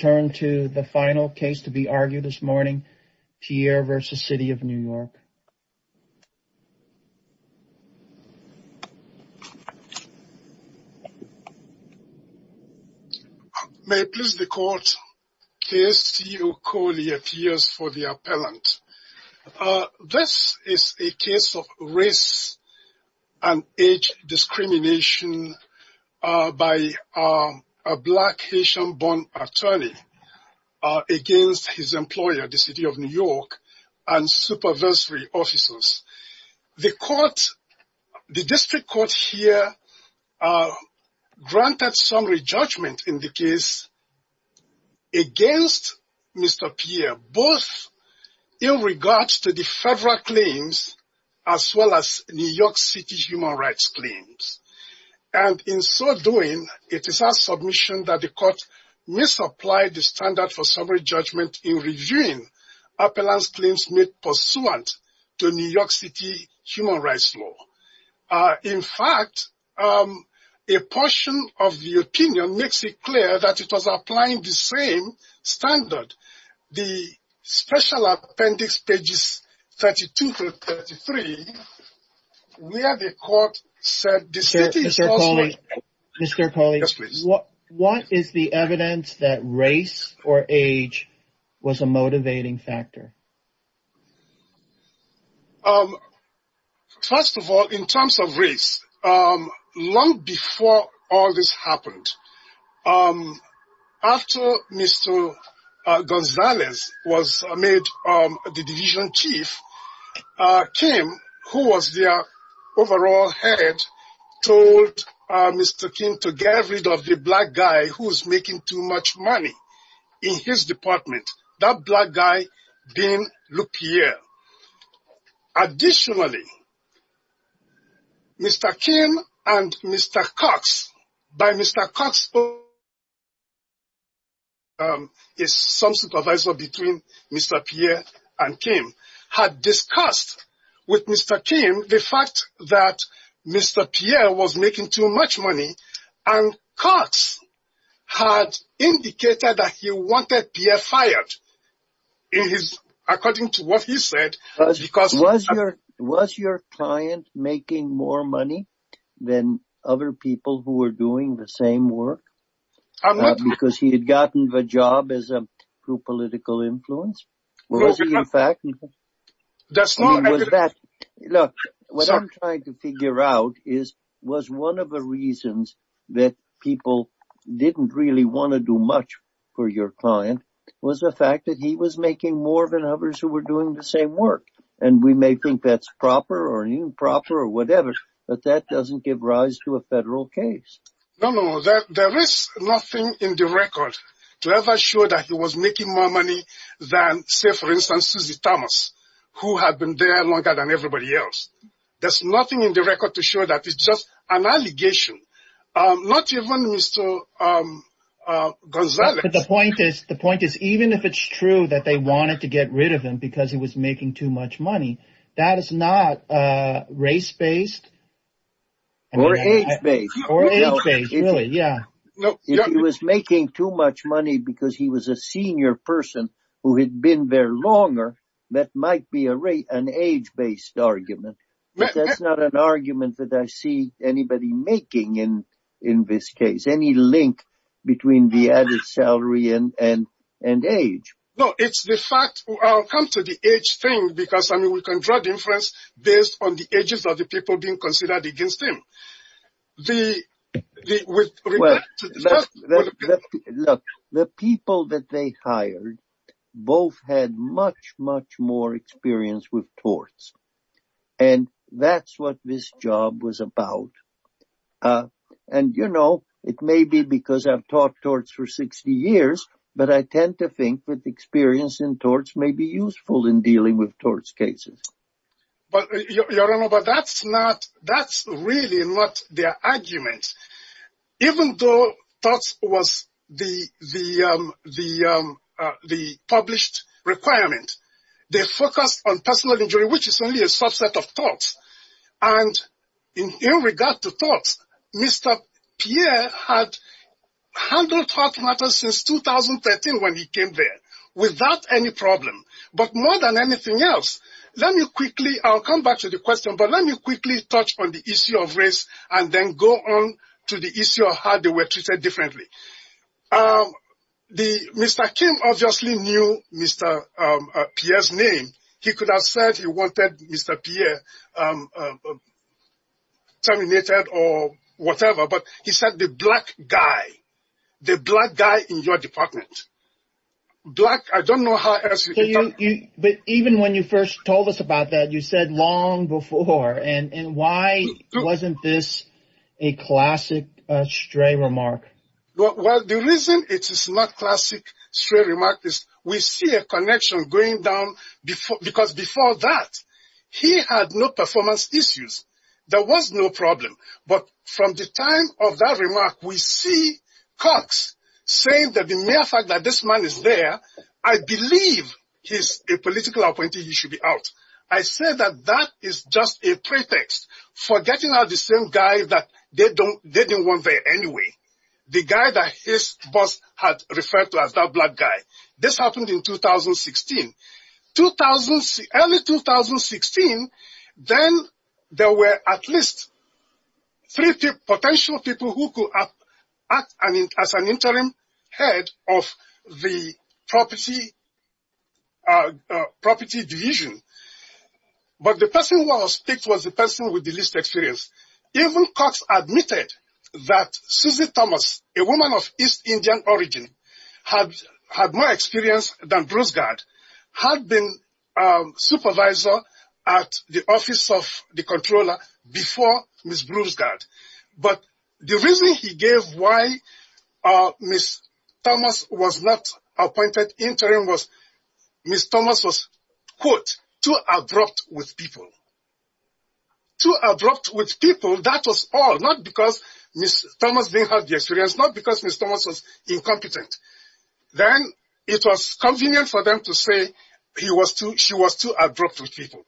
This is a case of race and age discrimination by a black Haitian-born attorney. against his employer, the City of New York, and supervisory officers. The District Court here granted summary judgment in the case against Mr. Pierre, both in regards to the federal claims as well as New York City human rights claims. And in so doing, it is our submission that the court misapplied the standard for summary judgment in reviewing appellant's claims made pursuant to New York City human rights law. In fact, a portion of the opinion makes it clear that it was applying the same standard. The Special Appendix, pages 32-33, where the court said that the city is also... Mr. Koli, what is the evidence that race or age was a motivating factor? First of all, in terms of race, long before all this happened, after Mr. Gonzalez was made the division chief, Kim, who was their overall head, told Mr. Kim to get rid of the black guy who was making too much money in his department. That black guy being LePierre. Additionally, Mr. Kim and Mr. Cox, by Mr. Cox, is some supervisor between Mr. Pierre and Kim, had discussed with Mr. Kim the fact that Mr. Pierre was making too much money, and Cox had indicated that he wanted Pierre fired, according to what he said. Was your client making more money than other people who were doing the same work? Because he had gotten the job as a political influence? Was he in fact? Look, what I'm trying to figure out is, was one of the reasons that people didn't really want to do much for your client was the fact that he was making more than others who were doing the same work. And we may think that's proper or improper or whatever, but that doesn't give rise to a federal case. No, no, there is nothing in the record to ever show that he was making more money than say, for instance, Susie Thomas, who had been there longer than everybody else. There's nothing in the record to show that it's just an allegation. Not even Mr. Gonzalez. But the point is, the point is, even if it's true that they wanted to get rid of him because he was making too much money, that is not race-based. Or age-based. Or age-based, really, yeah. If he was making too much money because he was a senior person who had been there longer, that might be an age-based argument. But that's not an argument that I see anybody making in this case. Any link between the added salary and age. No, it's the fact, I'll come to the age thing, because I mean, we can draw the inference based on the ages of the people being considered against him. The people that they hired both had much, much more experience with torts. And that's what this job was about. And you know, it may be because I've taught torts for 60 years, but I tend to think that experience in torts may be useful in dealing with torts cases. But that's not, that's really not their argument. Even though torts was the published requirement, they focus on personal injury, which is only a subset of torts. And in regard to torts, Mr. Pierre had handled tort matters since 2013 when he came there, without any problem. But more than anything else, let me quickly, I'll come back to the question, but let me quickly touch on the issue of race, and then go on to the issue of how they were treated differently. Mr. Kim obviously knew Mr. Pierre's name. He could have said he wanted Mr. Pierre terminated or whatever, but he said the black guy, the black guy in your department. Black, I don't know how else you could tell. But even when you first told us about that, you said long before, and why wasn't this a classic stray remark? Well, the reason it is not a classic stray remark is we see a connection going down because before that, he had no performance issues. There was no problem. But from the time of that a political appointee, he should be out. I say that that is just a pretext for getting out the same guy that they don't want there anyway. The guy that his boss had referred to as that black guy. This happened in 2016. Early 2016, then there were at least three potential people who could act as an interim head of the property division. But the person who was picked was the person with the least experience. Even Cox admitted that Susie Thomas, a woman of East Indian origin, had more experience than Bruce Gard, had been a supervisor at the office of the comptroller before Ms. Bruce Gard. But the reason he gave why Ms. Thomas was not appointed interim was Ms. Thomas was, quote, too abrupt with people. Too abrupt with people, that was all, not because Ms. Thomas didn't have the experience, not because Ms. Thomas was incompetent. Then it was convenient for them to say she was too abrupt with people.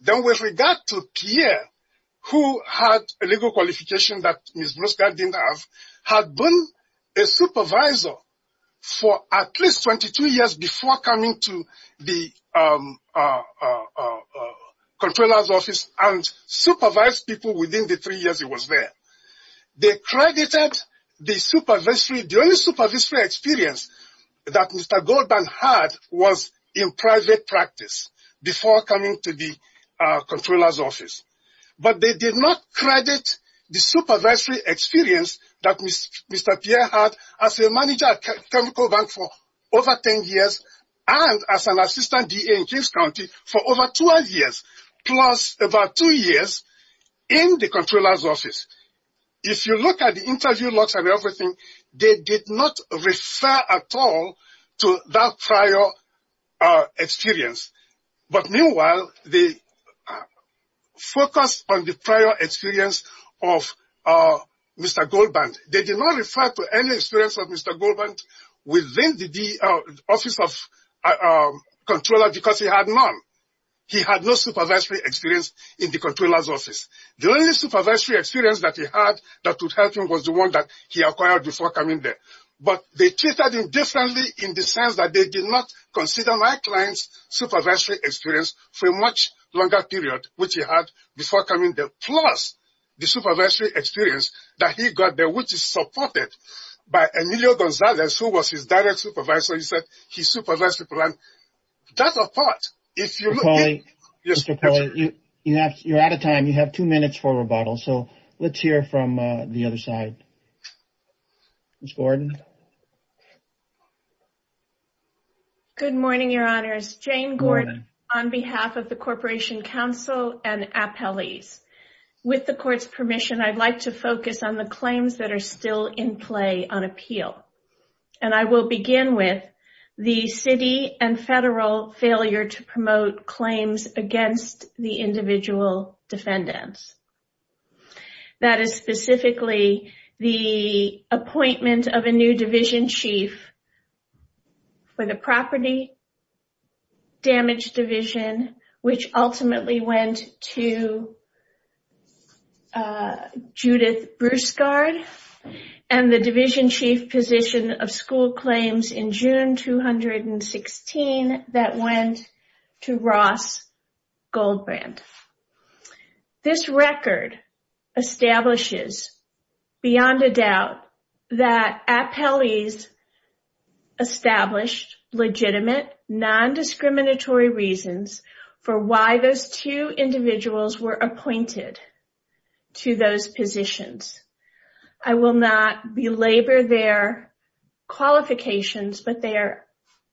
Then with regard to Pierre, who had a legal qualification that Ms. Bruce Gard didn't have, had been a supervisor for at least 22 years before coming to the comptroller's office and supervised people within the three years he was there. They credited the only supervisory experience that Mr. Goldman had was in private practice before coming to the comptroller's office. But they did not credit the supervisory experience that Mr. Pierre had as a manager at Chemical Bank for over 10 years and as an assistant DA in Kings County for over 12 years, plus about two years in the comptroller's office. If you look at the interview logs and everything, they did not refer at all to that prior experience. But meanwhile, they focused on the prior experience of Mr. Goldman. They did not refer to any experience of Mr. Goldman within the office of comptroller because he had none. He had no supervisory experience in the comptroller's office. The only supervisory experience that he had that would help him was the one that he acquired before coming there. But they treated him differently in the sense that they did not consider my client's supervisory experience for a much longer period, which he had before coming there, plus the supervisory experience that he got there, which is supported by Emilio Gonzalez, who was his direct supervisor. He said he supervised people and that's a part. If you look at Mr. Polley, you're out of time. You have two minutes for rebuttal. So go ahead. Good morning, Your Honors. Jane Gordon on behalf of the Corporation Council and appellees. With the court's permission, I'd like to focus on the claims that are still in play on appeal. I will begin with the city and federal failure to promote claims against the individual defendants. That is specifically the appointment of a new division chief for the property damage division, which ultimately went to Judith Broussard and the division chief position of school claims in June 2016 that went to Ross Goldbrand. This record establishes beyond a doubt that appellees established legitimate non-discriminatory reasons for why those two individuals were appointed to those positions. I will not belabor their qualifications, but they are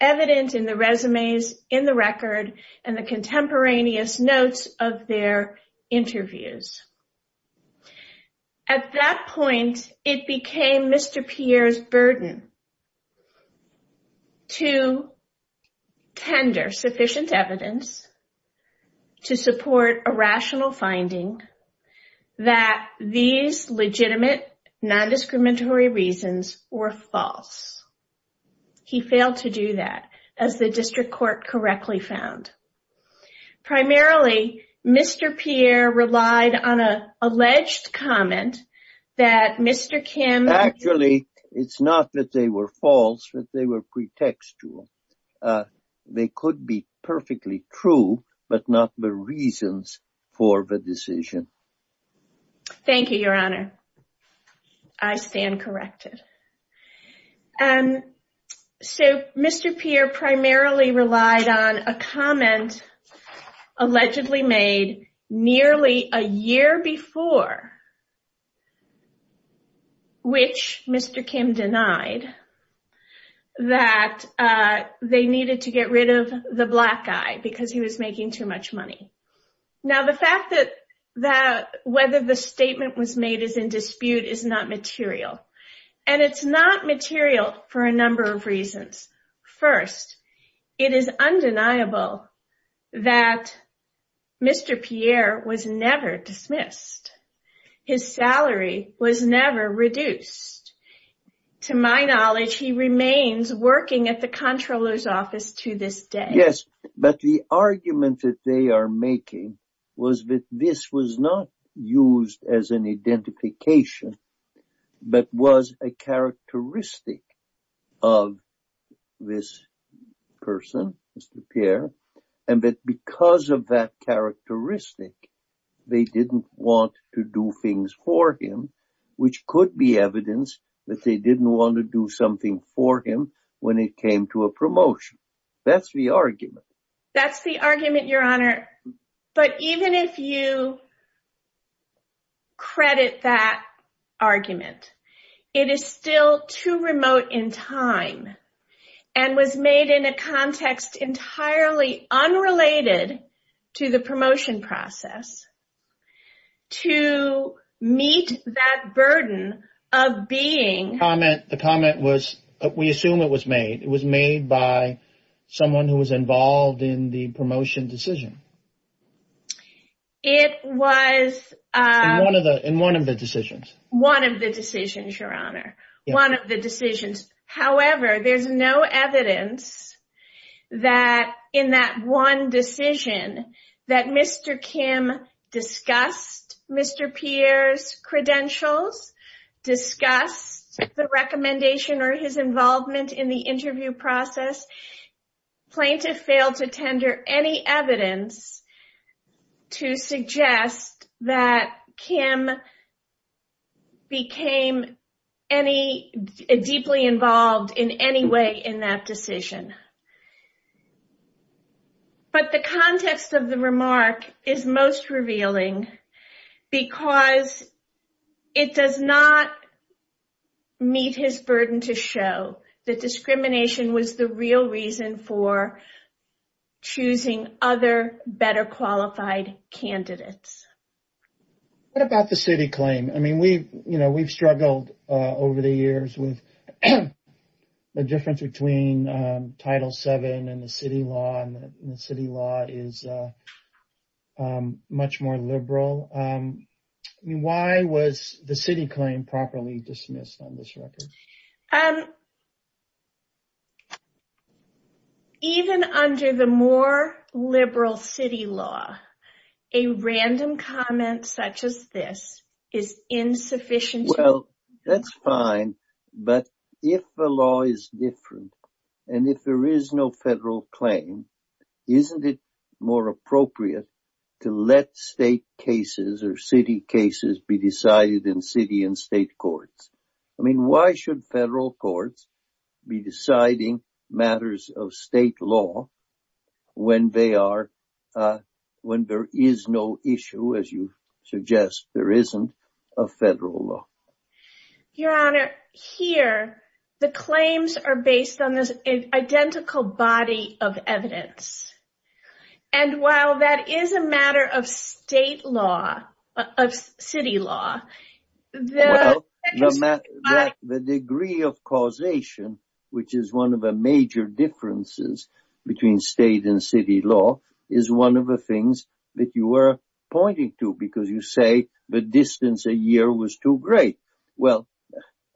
evident in the resumes in the record and the contemporaneous notes of their interviews. At that point, it became Mr. Pierre's burden to tender sufficient evidence to support a rational finding that these legitimate non-discriminatory reasons were false. He failed to do that, as the district court correctly found. Primarily, Mr. Pierre relied on an alleged comment that Mr. Kim... Actually, it's not that they were false, but they were pretextual. They could be perfectly true, but not the reasons for the decision. Thank you, Your Honor. I stand corrected. Mr. Pierre primarily relied on a comment allegedly made nearly a year before the hearing, which Mr. Kim denied, that they needed to get rid of the black guy because he was making too much money. Now, the fact that whether the statement was made as in dispute is not material, and it's not material for a number of reasons. First, it is undeniable that Mr. Pierre was never dismissed. His salary was never reduced. To my knowledge, he remains working at the comptroller's office to this day. Yes, but the argument that they are making was that this was not used as an identification, but was a characteristic of this person, Mr. Pierre, and that because of that characteristic, they didn't want to do things for him, which could be evidence that they didn't want to do something for him when it came to a promotion. That's the argument. That's the argument, Your Honor. But even if you credit that argument, it is still too remote in time and was made in a context entirely unrelated to the promotion process to meet that burden of being. The comment was, we assume it was made. It was made by someone who was involved in the promotion decision. It was in one of the decisions. One of the decisions, Your Honor. One of the decisions. However, there's no evidence that in that one decision that Mr. Kim discussed Mr. Pierre's credentials, discussed the recommendation or his involvement in the interview process. Plaintiff failed to tender any evidence to suggest that Kim became any deeply involved in any way in that decision. But the context of the remark is most revealing because it does not meet his burden to show that discrimination was the real reason for choosing other better qualified candidates. What about the city claim? I mean, we've struggled over the years with the difference between Title VII and the city law, and the city law is much more liberal. I mean, why was the city claim properly dismissed on this record? Even under the more liberal city law, a random comment such as this is insufficient. Well, that's fine. But if the law is different, and if there is no federal claim, isn't it more appropriate to let state cases or city cases be decided in city and state courts? I mean, why should federal courts be deciding matters of state law when there is no issue, as you suggest, there isn't a federal law? Your Honor, here, the claims are based on this identical body of evidence. And while that is a matter of state law, of city law, the degree of causation, which is one of the major differences between state and city law, is one of the things that you were pointing to because you say the distance a year was too great. Well,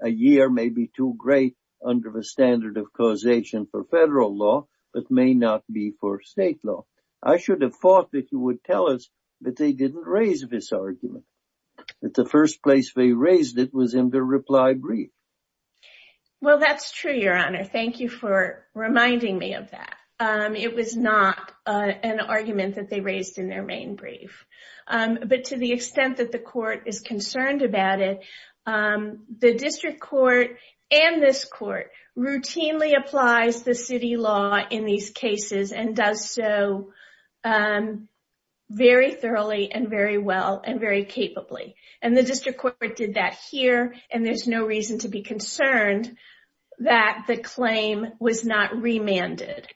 a year may be too great under the standard of causation for federal law, but may not be for state law. I should have thought that you would tell us that they didn't raise this argument, that the first place they raised it was in the reply brief. Well, that's true, Your Honor. Thank you for reminding me of that. It was not an argument that they raised in their main brief. But to the extent that the court is concerned about it, the district court and this court routinely applies the city law in these cases and does so very thoroughly and very well and very capably. And the district court did that here, and there's no reason to be concerned that the claim was not remanded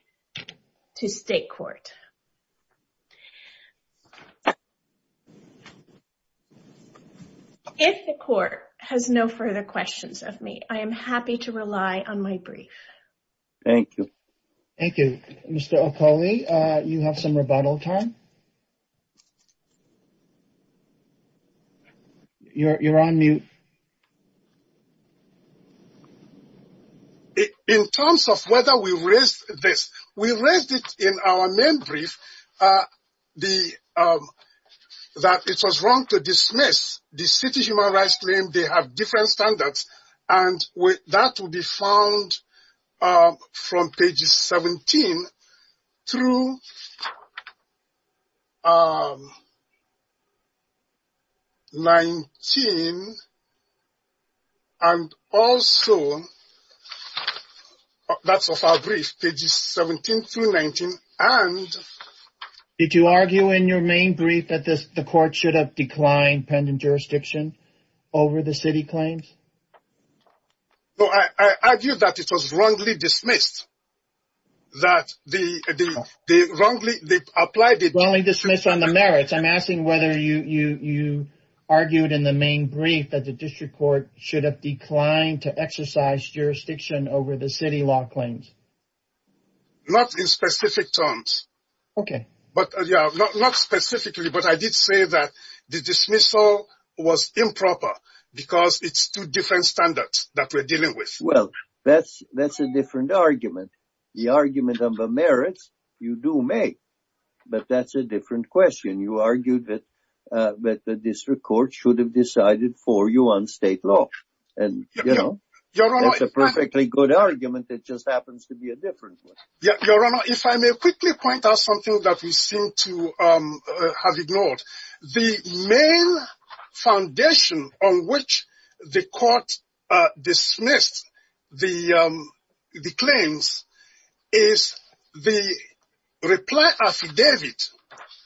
to state court. If the court has no further questions of me, I am happy to rely on my brief. Thank you. Thank you. Mr. Okole, you have some rebuttal time. You're on mute. Thank you. In terms of whether we raised this, we raised it in our main brief that it was wrong to dismiss the city's human rights claim. They have different standards, and that will be found from pages 17 through 19. And also, that's of our brief, pages 17 through 19. Did you argue in your main brief that the court should have declined pending jurisdiction over the city claims? No, I argued that it was wrongly dismissed, that they wrongly applied it. Wrongly dismissed on the merits. I'm asking whether you argued in the main brief that the district court should have declined to exercise jurisdiction over the city law claims. Not in specific terms. Okay. Not specifically, but I did say that the dismissal was improper because it's two different standards that we're dealing with. Well, that's a different argument. The argument on the merits, you do make, but that's a different question. You argued that the district court should have decided for you on state law, and that's a perfectly good argument. It just happens to be a different one. Your Honor, if I may quickly point out something that we seem to have ignored. The main foundation on which the court dismissed the claims is the reply affidavit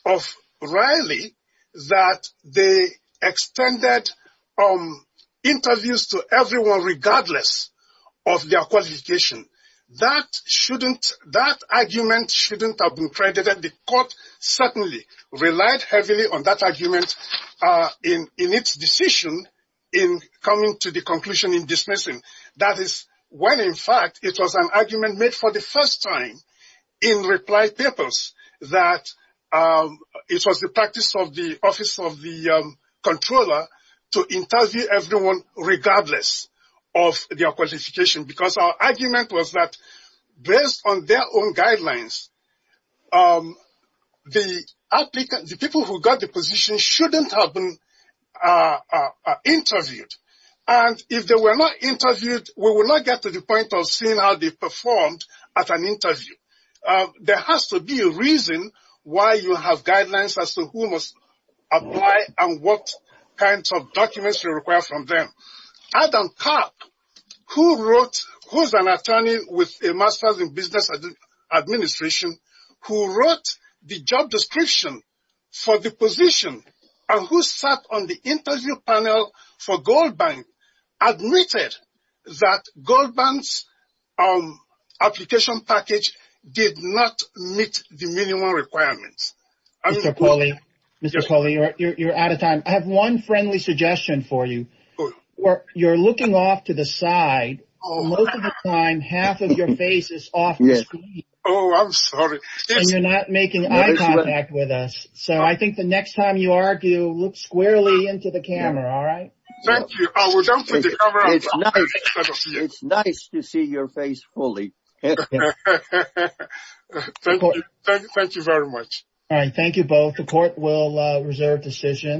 of Riley that they extended interviews to everyone regardless of their qualification. That argument shouldn't have been credited. The court certainly relied heavily on that argument in its decision in coming to the conclusion in dismissing. That is when, in fact, it was an argument made for the first time in reply papers that it was the practice of the office of the controller to interview everyone regardless of their qualification. Because our argument was that based on their own guidelines, the people who got the position shouldn't have been interviewed. And if they were not interviewed, we would not get to the point of seeing how they performed at an interview. There has to be a reason why you have guidelines as to who must apply and what kinds of documents you require from them. Adam Karp, who's an attorney with a Masters in Business Administration, who wrote the job description for the position and who sat on the interview panel for Goldbank, admitted that Goldbank's application package did not meet the minimum requirements. Mr. Cawley, you're out of time. I have one friendly suggestion for you. You're looking off to the side. Most of the time, half of your face is off the screen. Oh, I'm sorry. And you're not making eye contact with us. So I think the next time you argue, look squarely into the camera. All right. Thank you. It's nice to see your face fully. Thank you very much. All right. Thank you both. The court will reserve decision.